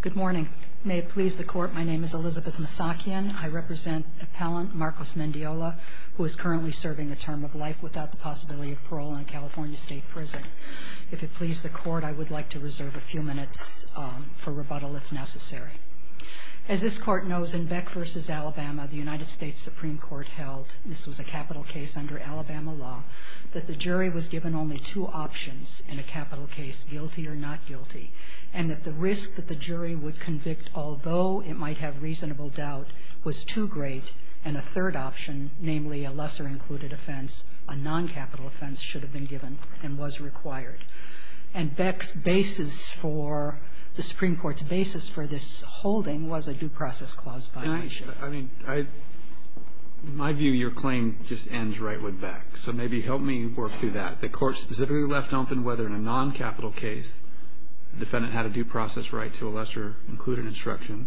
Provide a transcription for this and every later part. Good morning. May it please the Court, my name is Elizabeth Masakian. I represent appellant Marcos Mendiola, who is currently serving a term of life without the possibility of parole in a California State Prison. If it please the Court, I would like to reserve a few minutes for rebuttal if necessary. As this Court knows, in Beck v. Alabama, the United States Supreme Court held, this was a capital case under Alabama law, that the jury was given only two options in a capital case, guilty or not guilty, and that the risk that the jury would convict, although it might have reasonable doubt, was too great, and a third option, namely a lesser-included offense, a non-capital offense, should have been given and was required. And Beck's basis for the Supreme Court's basis for this holding was a due process clause violation. In my view, your claim just ends right with Beck. So maybe help me work through that. The Court specifically left open whether in a non-capital case the defendant had a due process right to a lesser-included instruction.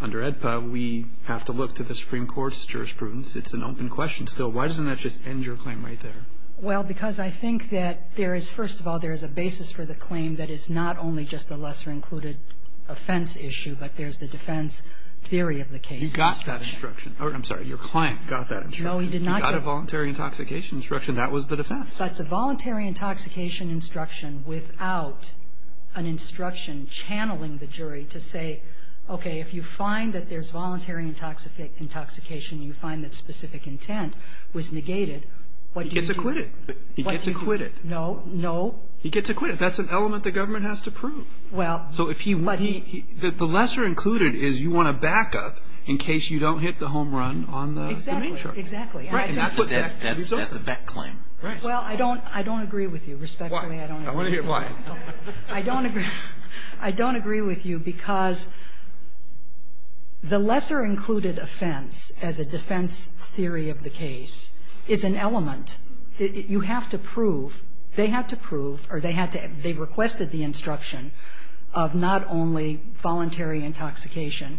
Under AEDPA, we have to look to the Supreme Court's jurisprudence. It's an open question still. Why doesn't that just end your claim right there? Well, because I think that there is, first of all, there is a basis for the claim that is not only just the lesser-included offense issue, but there's the defense theory of the case. You got that instruction. I'm sorry. Your client got that instruction. No, he did not get it. You got a voluntary intoxication instruction. That was the defense. But the voluntary intoxication instruction without an instruction channeling the jury to say, okay, if you find that there's voluntary intoxication, you find that specific intent was negated, what do you do? He gets acquitted. He gets acquitted. No. No. He gets acquitted. That's an element the government has to prove. Well, but he – So if he – the lesser-included is you want a backup in case you don't hit the home run on the main charge. Exactly. Exactly. Right. And that's what Beck – That's a Beck claim. Well, I don't – I don't agree with you. Respectfully, I don't agree with you. Why? I want to hear why. I don't agree – I don't agree with you because the lesser-included offense as a defense theory of the case is an element that you have to prove. They had to prove, or they had to – they requested the instruction of not only voluntary intoxication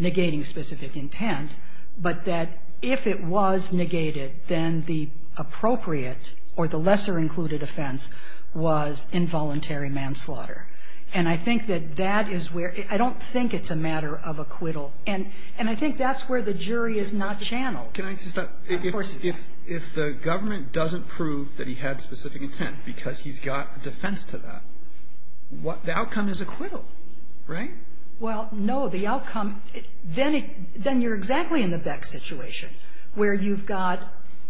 negating specific intent, but that if it was negated, then the appropriate or the lesser-included offense was involuntary manslaughter. And I think that that is where – I don't think it's a matter of acquittal. And I think that's where the jury is not channeled. Can I just – if the government doesn't prove that he had specific intent because he's got a defense to that, the outcome is acquittal, right? Well, no. The outcome – then it – then you're exactly in the Beck situation where you've got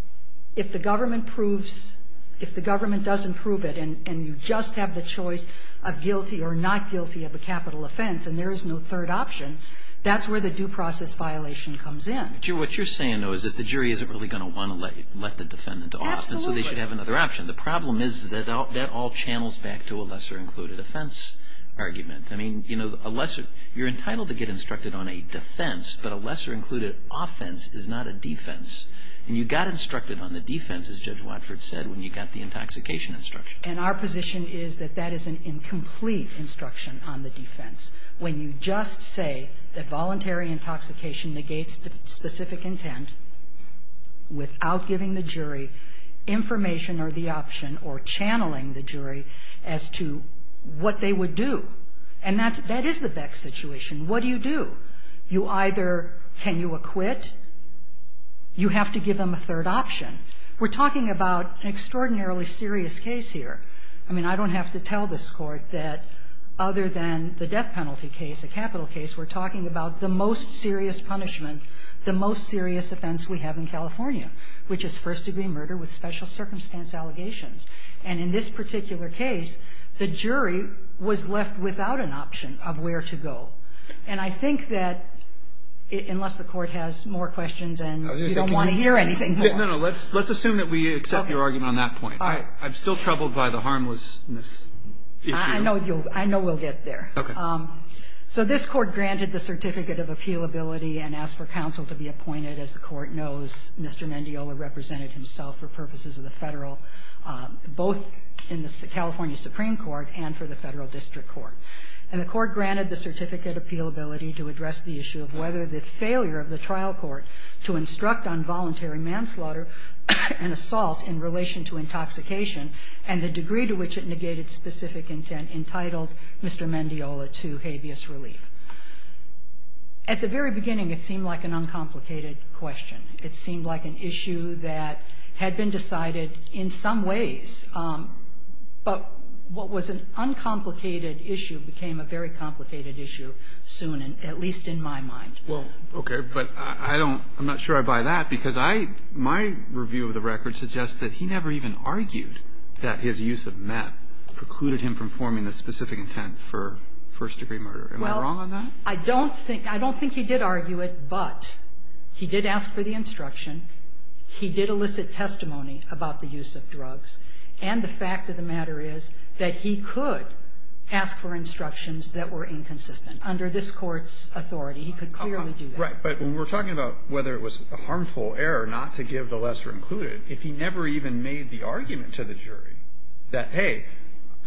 – if the government proves – if the government doesn't prove it and you just have the choice of guilty or not guilty of a capital offense and there is no third option, that's where the due process violation comes in. What you're saying, though, is that the jury isn't really going to want to let the defendant off. Absolutely. And so they should have another option. The problem is that that all channels back to a lesser-included offense argument. I mean, you know, a lesser – you're entitled to get instructed on a defense, but a lesser-included offense is not a defense. And you got instructed on the defense, as Judge Watford said, when you got the intoxication instruction. And our position is that that is an incomplete instruction on the defense. When you just say that voluntary intoxication negates the specific intent without giving the jury information or the option or channeling the jury as to what they would do, and that's – that is the Beck situation. What do you do? You either – can you acquit? You have to give them a third option. We're talking about an extraordinarily serious case here. I mean, I don't have to tell this Court that other than the death penalty case, a capital case, we're talking about the most serious punishment, the most serious offense we have in California, which is first-degree murder with special circumstance allegations. And in this particular case, the jury was left without an option of where to go. And I think that, unless the Court has more questions and you don't want to hear anything more. No, no. Let's assume that we accept your argument on that point. I've still troubled by the harmlessness issue. I know you'll – I know we'll get there. Okay. So this Court granted the certificate of appealability and asked for counsel to be appointed. As the Court knows, Mr. Mendiola represented himself for purposes of the Federal District Court, both in the California Supreme Court and for the Federal District Court. And the Court granted the certificate of appealability to address the issue of whether the failure of the trial court to instruct on voluntary manslaughter and assault in relation to intoxication and the degree to which it negated specific intent entitled Mr. Mendiola to habeas relief. At the very beginning, it seemed like an uncomplicated question. It seemed like an issue that had been decided in some ways. But what was an uncomplicated issue became a very complicated issue soon, at least in my mind. Well, okay. But I don't – I'm not sure I buy that, because I – my review of the record suggests that he never even argued that his use of meth precluded him from forming the specific intent for first-degree murder. Am I wrong on that? I don't think – I don't think he did argue it, but he did ask for the instruction. He did elicit testimony about the use of drugs. And the fact of the matter is that he could ask for instructions that were inconsistent under this Court's authority. He could clearly do that. Right. But when we're talking about whether it was a harmful error not to give the lesser included, if he never even made the argument to the jury that, hey,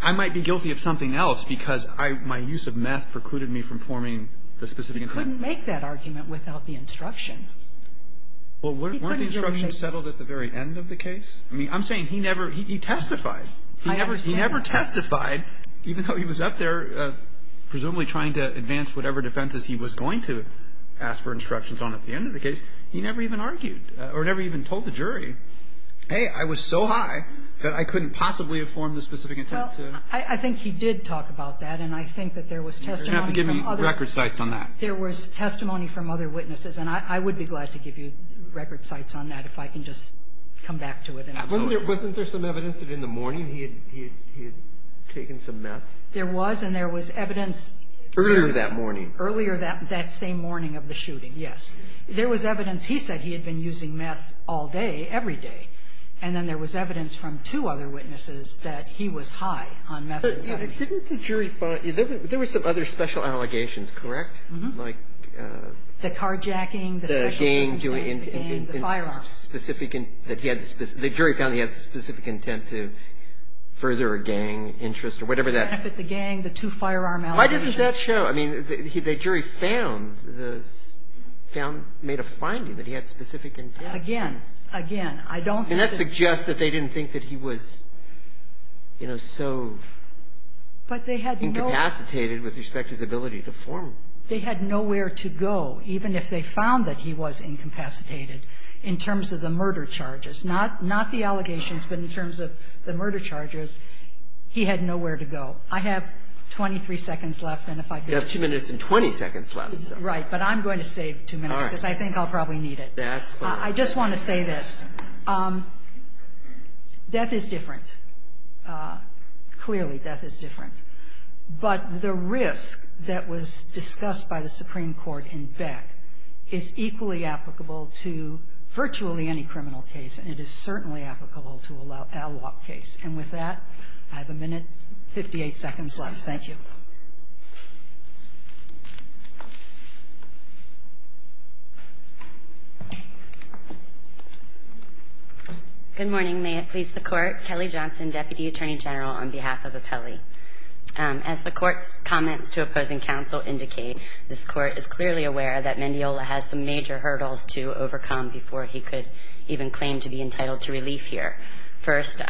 I might be guilty of something else because I – my use of meth precluded me from forming the specific intent. He couldn't make that argument without the instruction. Well, weren't the instructions settled at the very end of the case? I mean, I'm saying he never – he testified. I understand that. He never testified, even though he was up there presumably trying to advance whatever defenses he was going to ask for instructions on at the end of the case. He never even argued or never even told the jury, hey, I was so high that I couldn't possibly have formed the specific intent to – I think he did talk about that. And I think that there was testimony from other – You're going to have to give me record sites on that. There was testimony from other witnesses. And I would be glad to give you record sites on that if I can just come back to it. Wasn't there some evidence that in the morning he had taken some meth? There was. And there was evidence – Earlier that morning. Earlier that same morning of the shooting, yes. There was evidence – he said he had been using meth all day, every day. And then there was evidence from two other witnesses that he was high on meth. Didn't the jury find – there were some other special allegations, correct? Mm-hmm. Like – The carjacking. The gang doing – The firearms. Specific – that he had – the jury found he had specific intent to further a gang interest or whatever that – Benefit the gang, the two firearm allegations. Why doesn't that show? I mean, the jury found the – found – made a finding that he had specific intent. Again, again, I don't think that – And that suggests that they didn't think that he was, you know, so incapacitated with respect to his ability to form. They had nowhere to go. Even if they found that he was incapacitated in terms of the murder charges, not the allegations, but in terms of the murder charges, he had nowhere to go. I have 23 seconds left, and if I could just – You have 2 minutes and 20 seconds left. Right. But I'm going to save 2 minutes because I think I'll probably need it. I just want to say this. Death is different. Clearly, death is different. But the risk that was discussed by the Supreme Court in Beck is equally applicable to virtually any criminal case, and it is certainly applicable to a law case. And with that, I have a minute, 58 seconds left. Thank you. Good morning. May it please the Court. Kelly Johnson, Deputy Attorney General, on behalf of Apelli. As the Court's comments to opposing counsel indicate, this Court is clearly aware that Mendiola has some major hurdles to overcome before he could even claim to be entitled to relief here. First,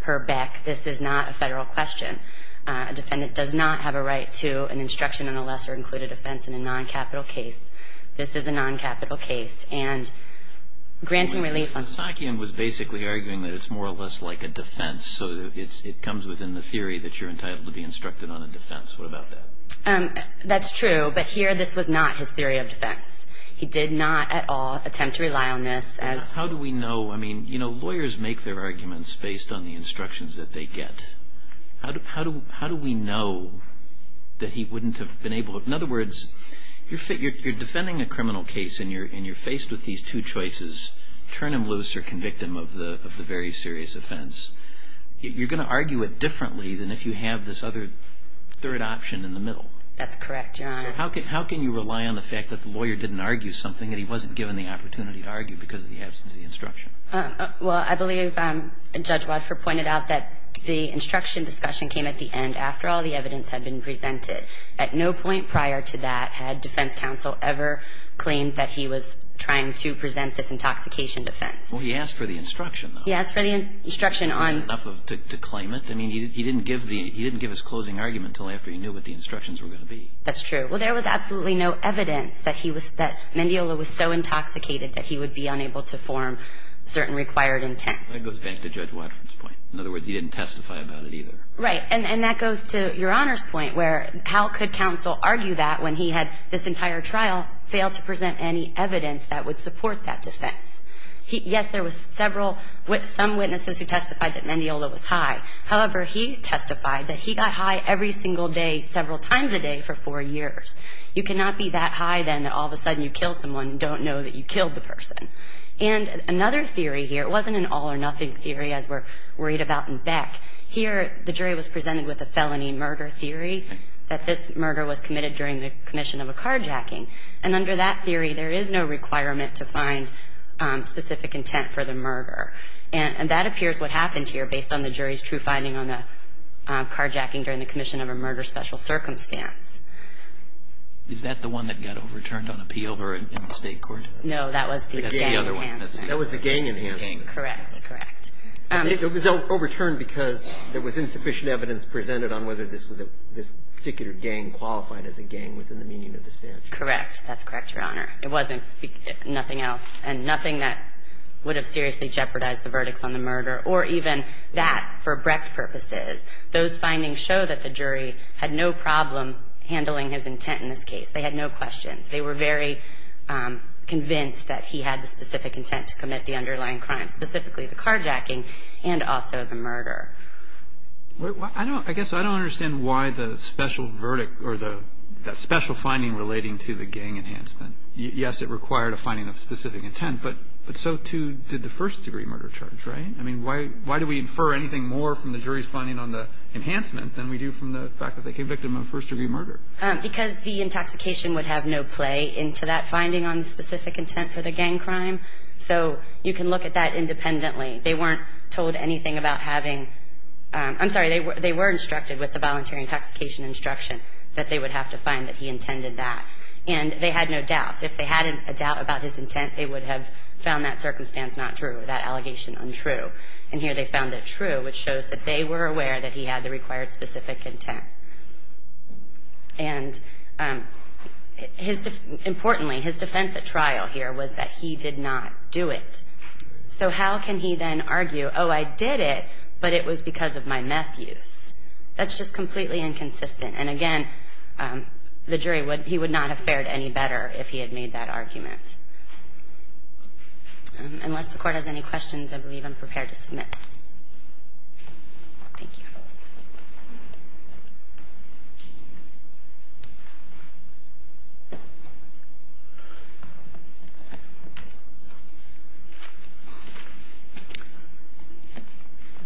per Beck, this is not a federal question. A defendant does not have a right to an instruction on a lesser-included offense in a non-capital case. This is a non-capital case. And granting relief on – Sakian was basically arguing that it's more or less like a defense, so it comes within the theory that you're entitled to be instructed on a defense. What about that? That's true, but here this was not his theory of defense. He did not at all attempt to rely on this as – How do we know – I mean, you know, lawyers make their arguments based on the instructions that they get. How do we know that he wouldn't have been able to – in other words, you're defending a criminal case and you're faced with these two choices, turn him loose or convict him of the very serious offense. You're going to argue it differently than if you have this other third option in the middle. That's correct, Your Honor. So how can you rely on the fact that the lawyer didn't argue something that he wasn't given the opportunity to argue because of the absence of the instruction? Well, I believe Judge Wadford pointed out that the instruction discussion came at the end after all the evidence had been presented. At no point prior to that had defense counsel ever claimed that he was trying to present this intoxication defense. Well, he asked for the instruction, though. He asked for the instruction on – Didn't he get enough to claim it? I mean, he didn't give his closing argument until after he knew what the instructions were going to be. That's true. Well, there was absolutely no evidence that he was – that Mendiola was so intoxicated that he would be unable to form certain required intents. That goes back to Judge Wadford's point. In other words, he didn't testify about it either. Right. And that goes to Your Honor's point where how could counsel argue that when he had this entire trial fail to present any evidence that would support that defense? Yes, there was several – some witnesses who testified that Mendiola was high. However, he testified that he got high every single day several times a day for four years. You cannot be that high then that all of a sudden you kill someone and don't know that you killed the person. And another theory here – it wasn't an all-or-nothing theory as we're worried about in Beck. Here, the jury was presented with a felony murder theory that this murder was committed during the commission of a carjacking. And under that theory, there is no requirement to find specific intent for the murder. And that appears what happened here based on the jury's true finding on the carjacking during the commission of a murder special circumstance. Is that the one that got overturned on appeal or in the State court? No, that was the gang enhancement. That was the gang enhancement. Correct. Correct. It was overturned because there was insufficient evidence presented on whether this was a – this particular gang qualified as a gang within the meaning of the statute. Correct. That's correct, Your Honor. It wasn't nothing else. And nothing that would have seriously jeopardized the verdicts on the murder or even that for Brecht purposes. Those findings show that the jury had no problem handling his intent in this case. They had no questions. They were very convinced that he had the specific intent to commit the underlying crime, specifically the carjacking and also the murder. I don't – I guess I don't understand why the special verdict or the special finding relating to the gang enhancement. Yes, it required a finding of specific intent, but so, too, did the first-degree murder charge, right? I mean, why do we infer anything more from the jury's finding on the enhancement than we do from the fact that they convicted him of first-degree murder? Because the intoxication would have no play into that finding on the specific intent for the gang crime. So you can look at that independently. They weren't told anything about having – I'm sorry. They were instructed with the voluntary intoxication instruction that they would have to find that he intended that. And they had no doubts. If they had a doubt about his intent, they would have found that circumstance not true, that allegation untrue. And here they found it true, which shows that they were aware that he had the required specific intent. And his – importantly, his defense at trial here was that he did not do it. So how can he then argue, oh, I did it, but it was because of my meth use? That's just completely inconsistent. And again, the jury would – he would not have fared any better if he had made that argument. Unless the Court has any questions, I believe I'm prepared to submit. Thank you.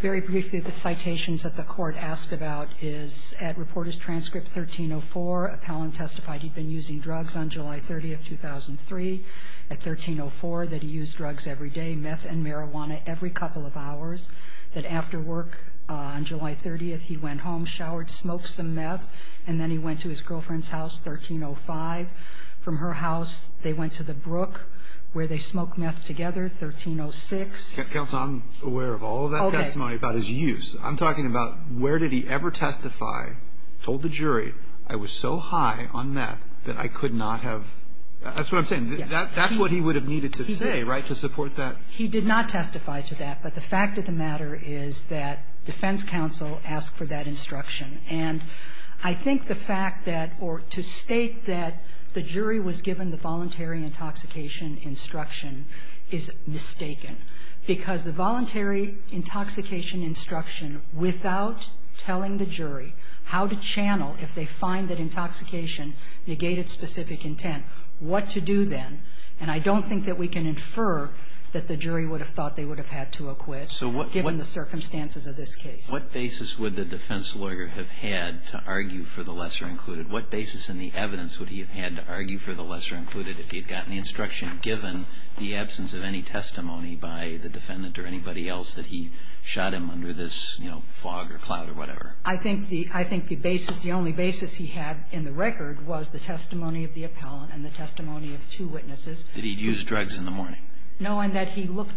Very briefly, the citations that the Court asked about is at Reporters' Transcript 1304, Appellant testified he'd been using drugs on July 30th, 2003. At 1304, that he used drugs every day, meth and marijuana every couple of hours. That after work on July 30th, he went home, showered, smoked some meth, and then he went to his girlfriend's house, 1305. From her house, they went to the brook where they smoked meth together, 1306. Counsel, I'm aware of all of that testimony about his use. I'm talking about where did he ever testify, told the jury, I was so high on meth that I could not have – that's what I'm saying. That's what he would have needed to say, right, to support that. He did not testify to that. But the fact of the matter is that defense counsel asked for that instruction. And I think the fact that – or to state that the jury was given the voluntary intoxication instruction is mistaken. Because the voluntary intoxication instruction, without telling the jury how to channel if they find that intoxication negated specific intent, what to do then. And I don't think that we can infer that the jury would have thought they would have had to acquit given the circumstances of this case. What basis would the defense lawyer have had to argue for the lesser included? What basis in the evidence would he have had to argue for the lesser included if he had gotten the instruction given the absence of any testimony by the defendant or anybody else that he shot him under this, you know, fog or cloud or whatever? I think the basis, the only basis he had in the record was the testimony of the witnesses. Did he use drugs in the morning? No. And that he looked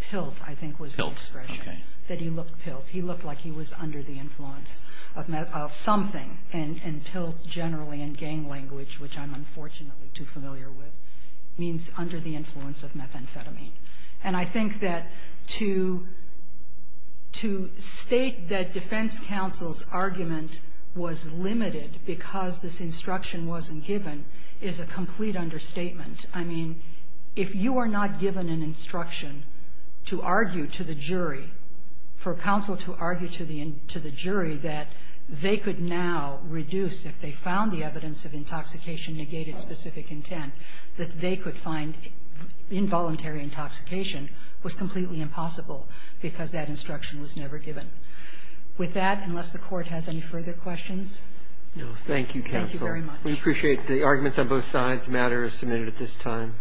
pilled, I think was his expression. Pilled. Okay. That he looked pilled. He looked like he was under the influence of something. And pilled generally in gang language, which I'm unfortunately too familiar with, means under the influence of methamphetamine. And I think that to state that defense counsel's argument was limited because this instruction wasn't given is a complete understatement. I mean, if you are not given an instruction to argue to the jury, for counsel to argue to the jury that they could now reduce, if they found the evidence of intoxication negated specific intent, that they could find involuntary intoxication was completely impossible because that instruction was never given. With that, unless the Court has any further questions. No. Thank you, counsel. Thank you very much. We appreciate the arguments on both sides. The matter is submitted at this time.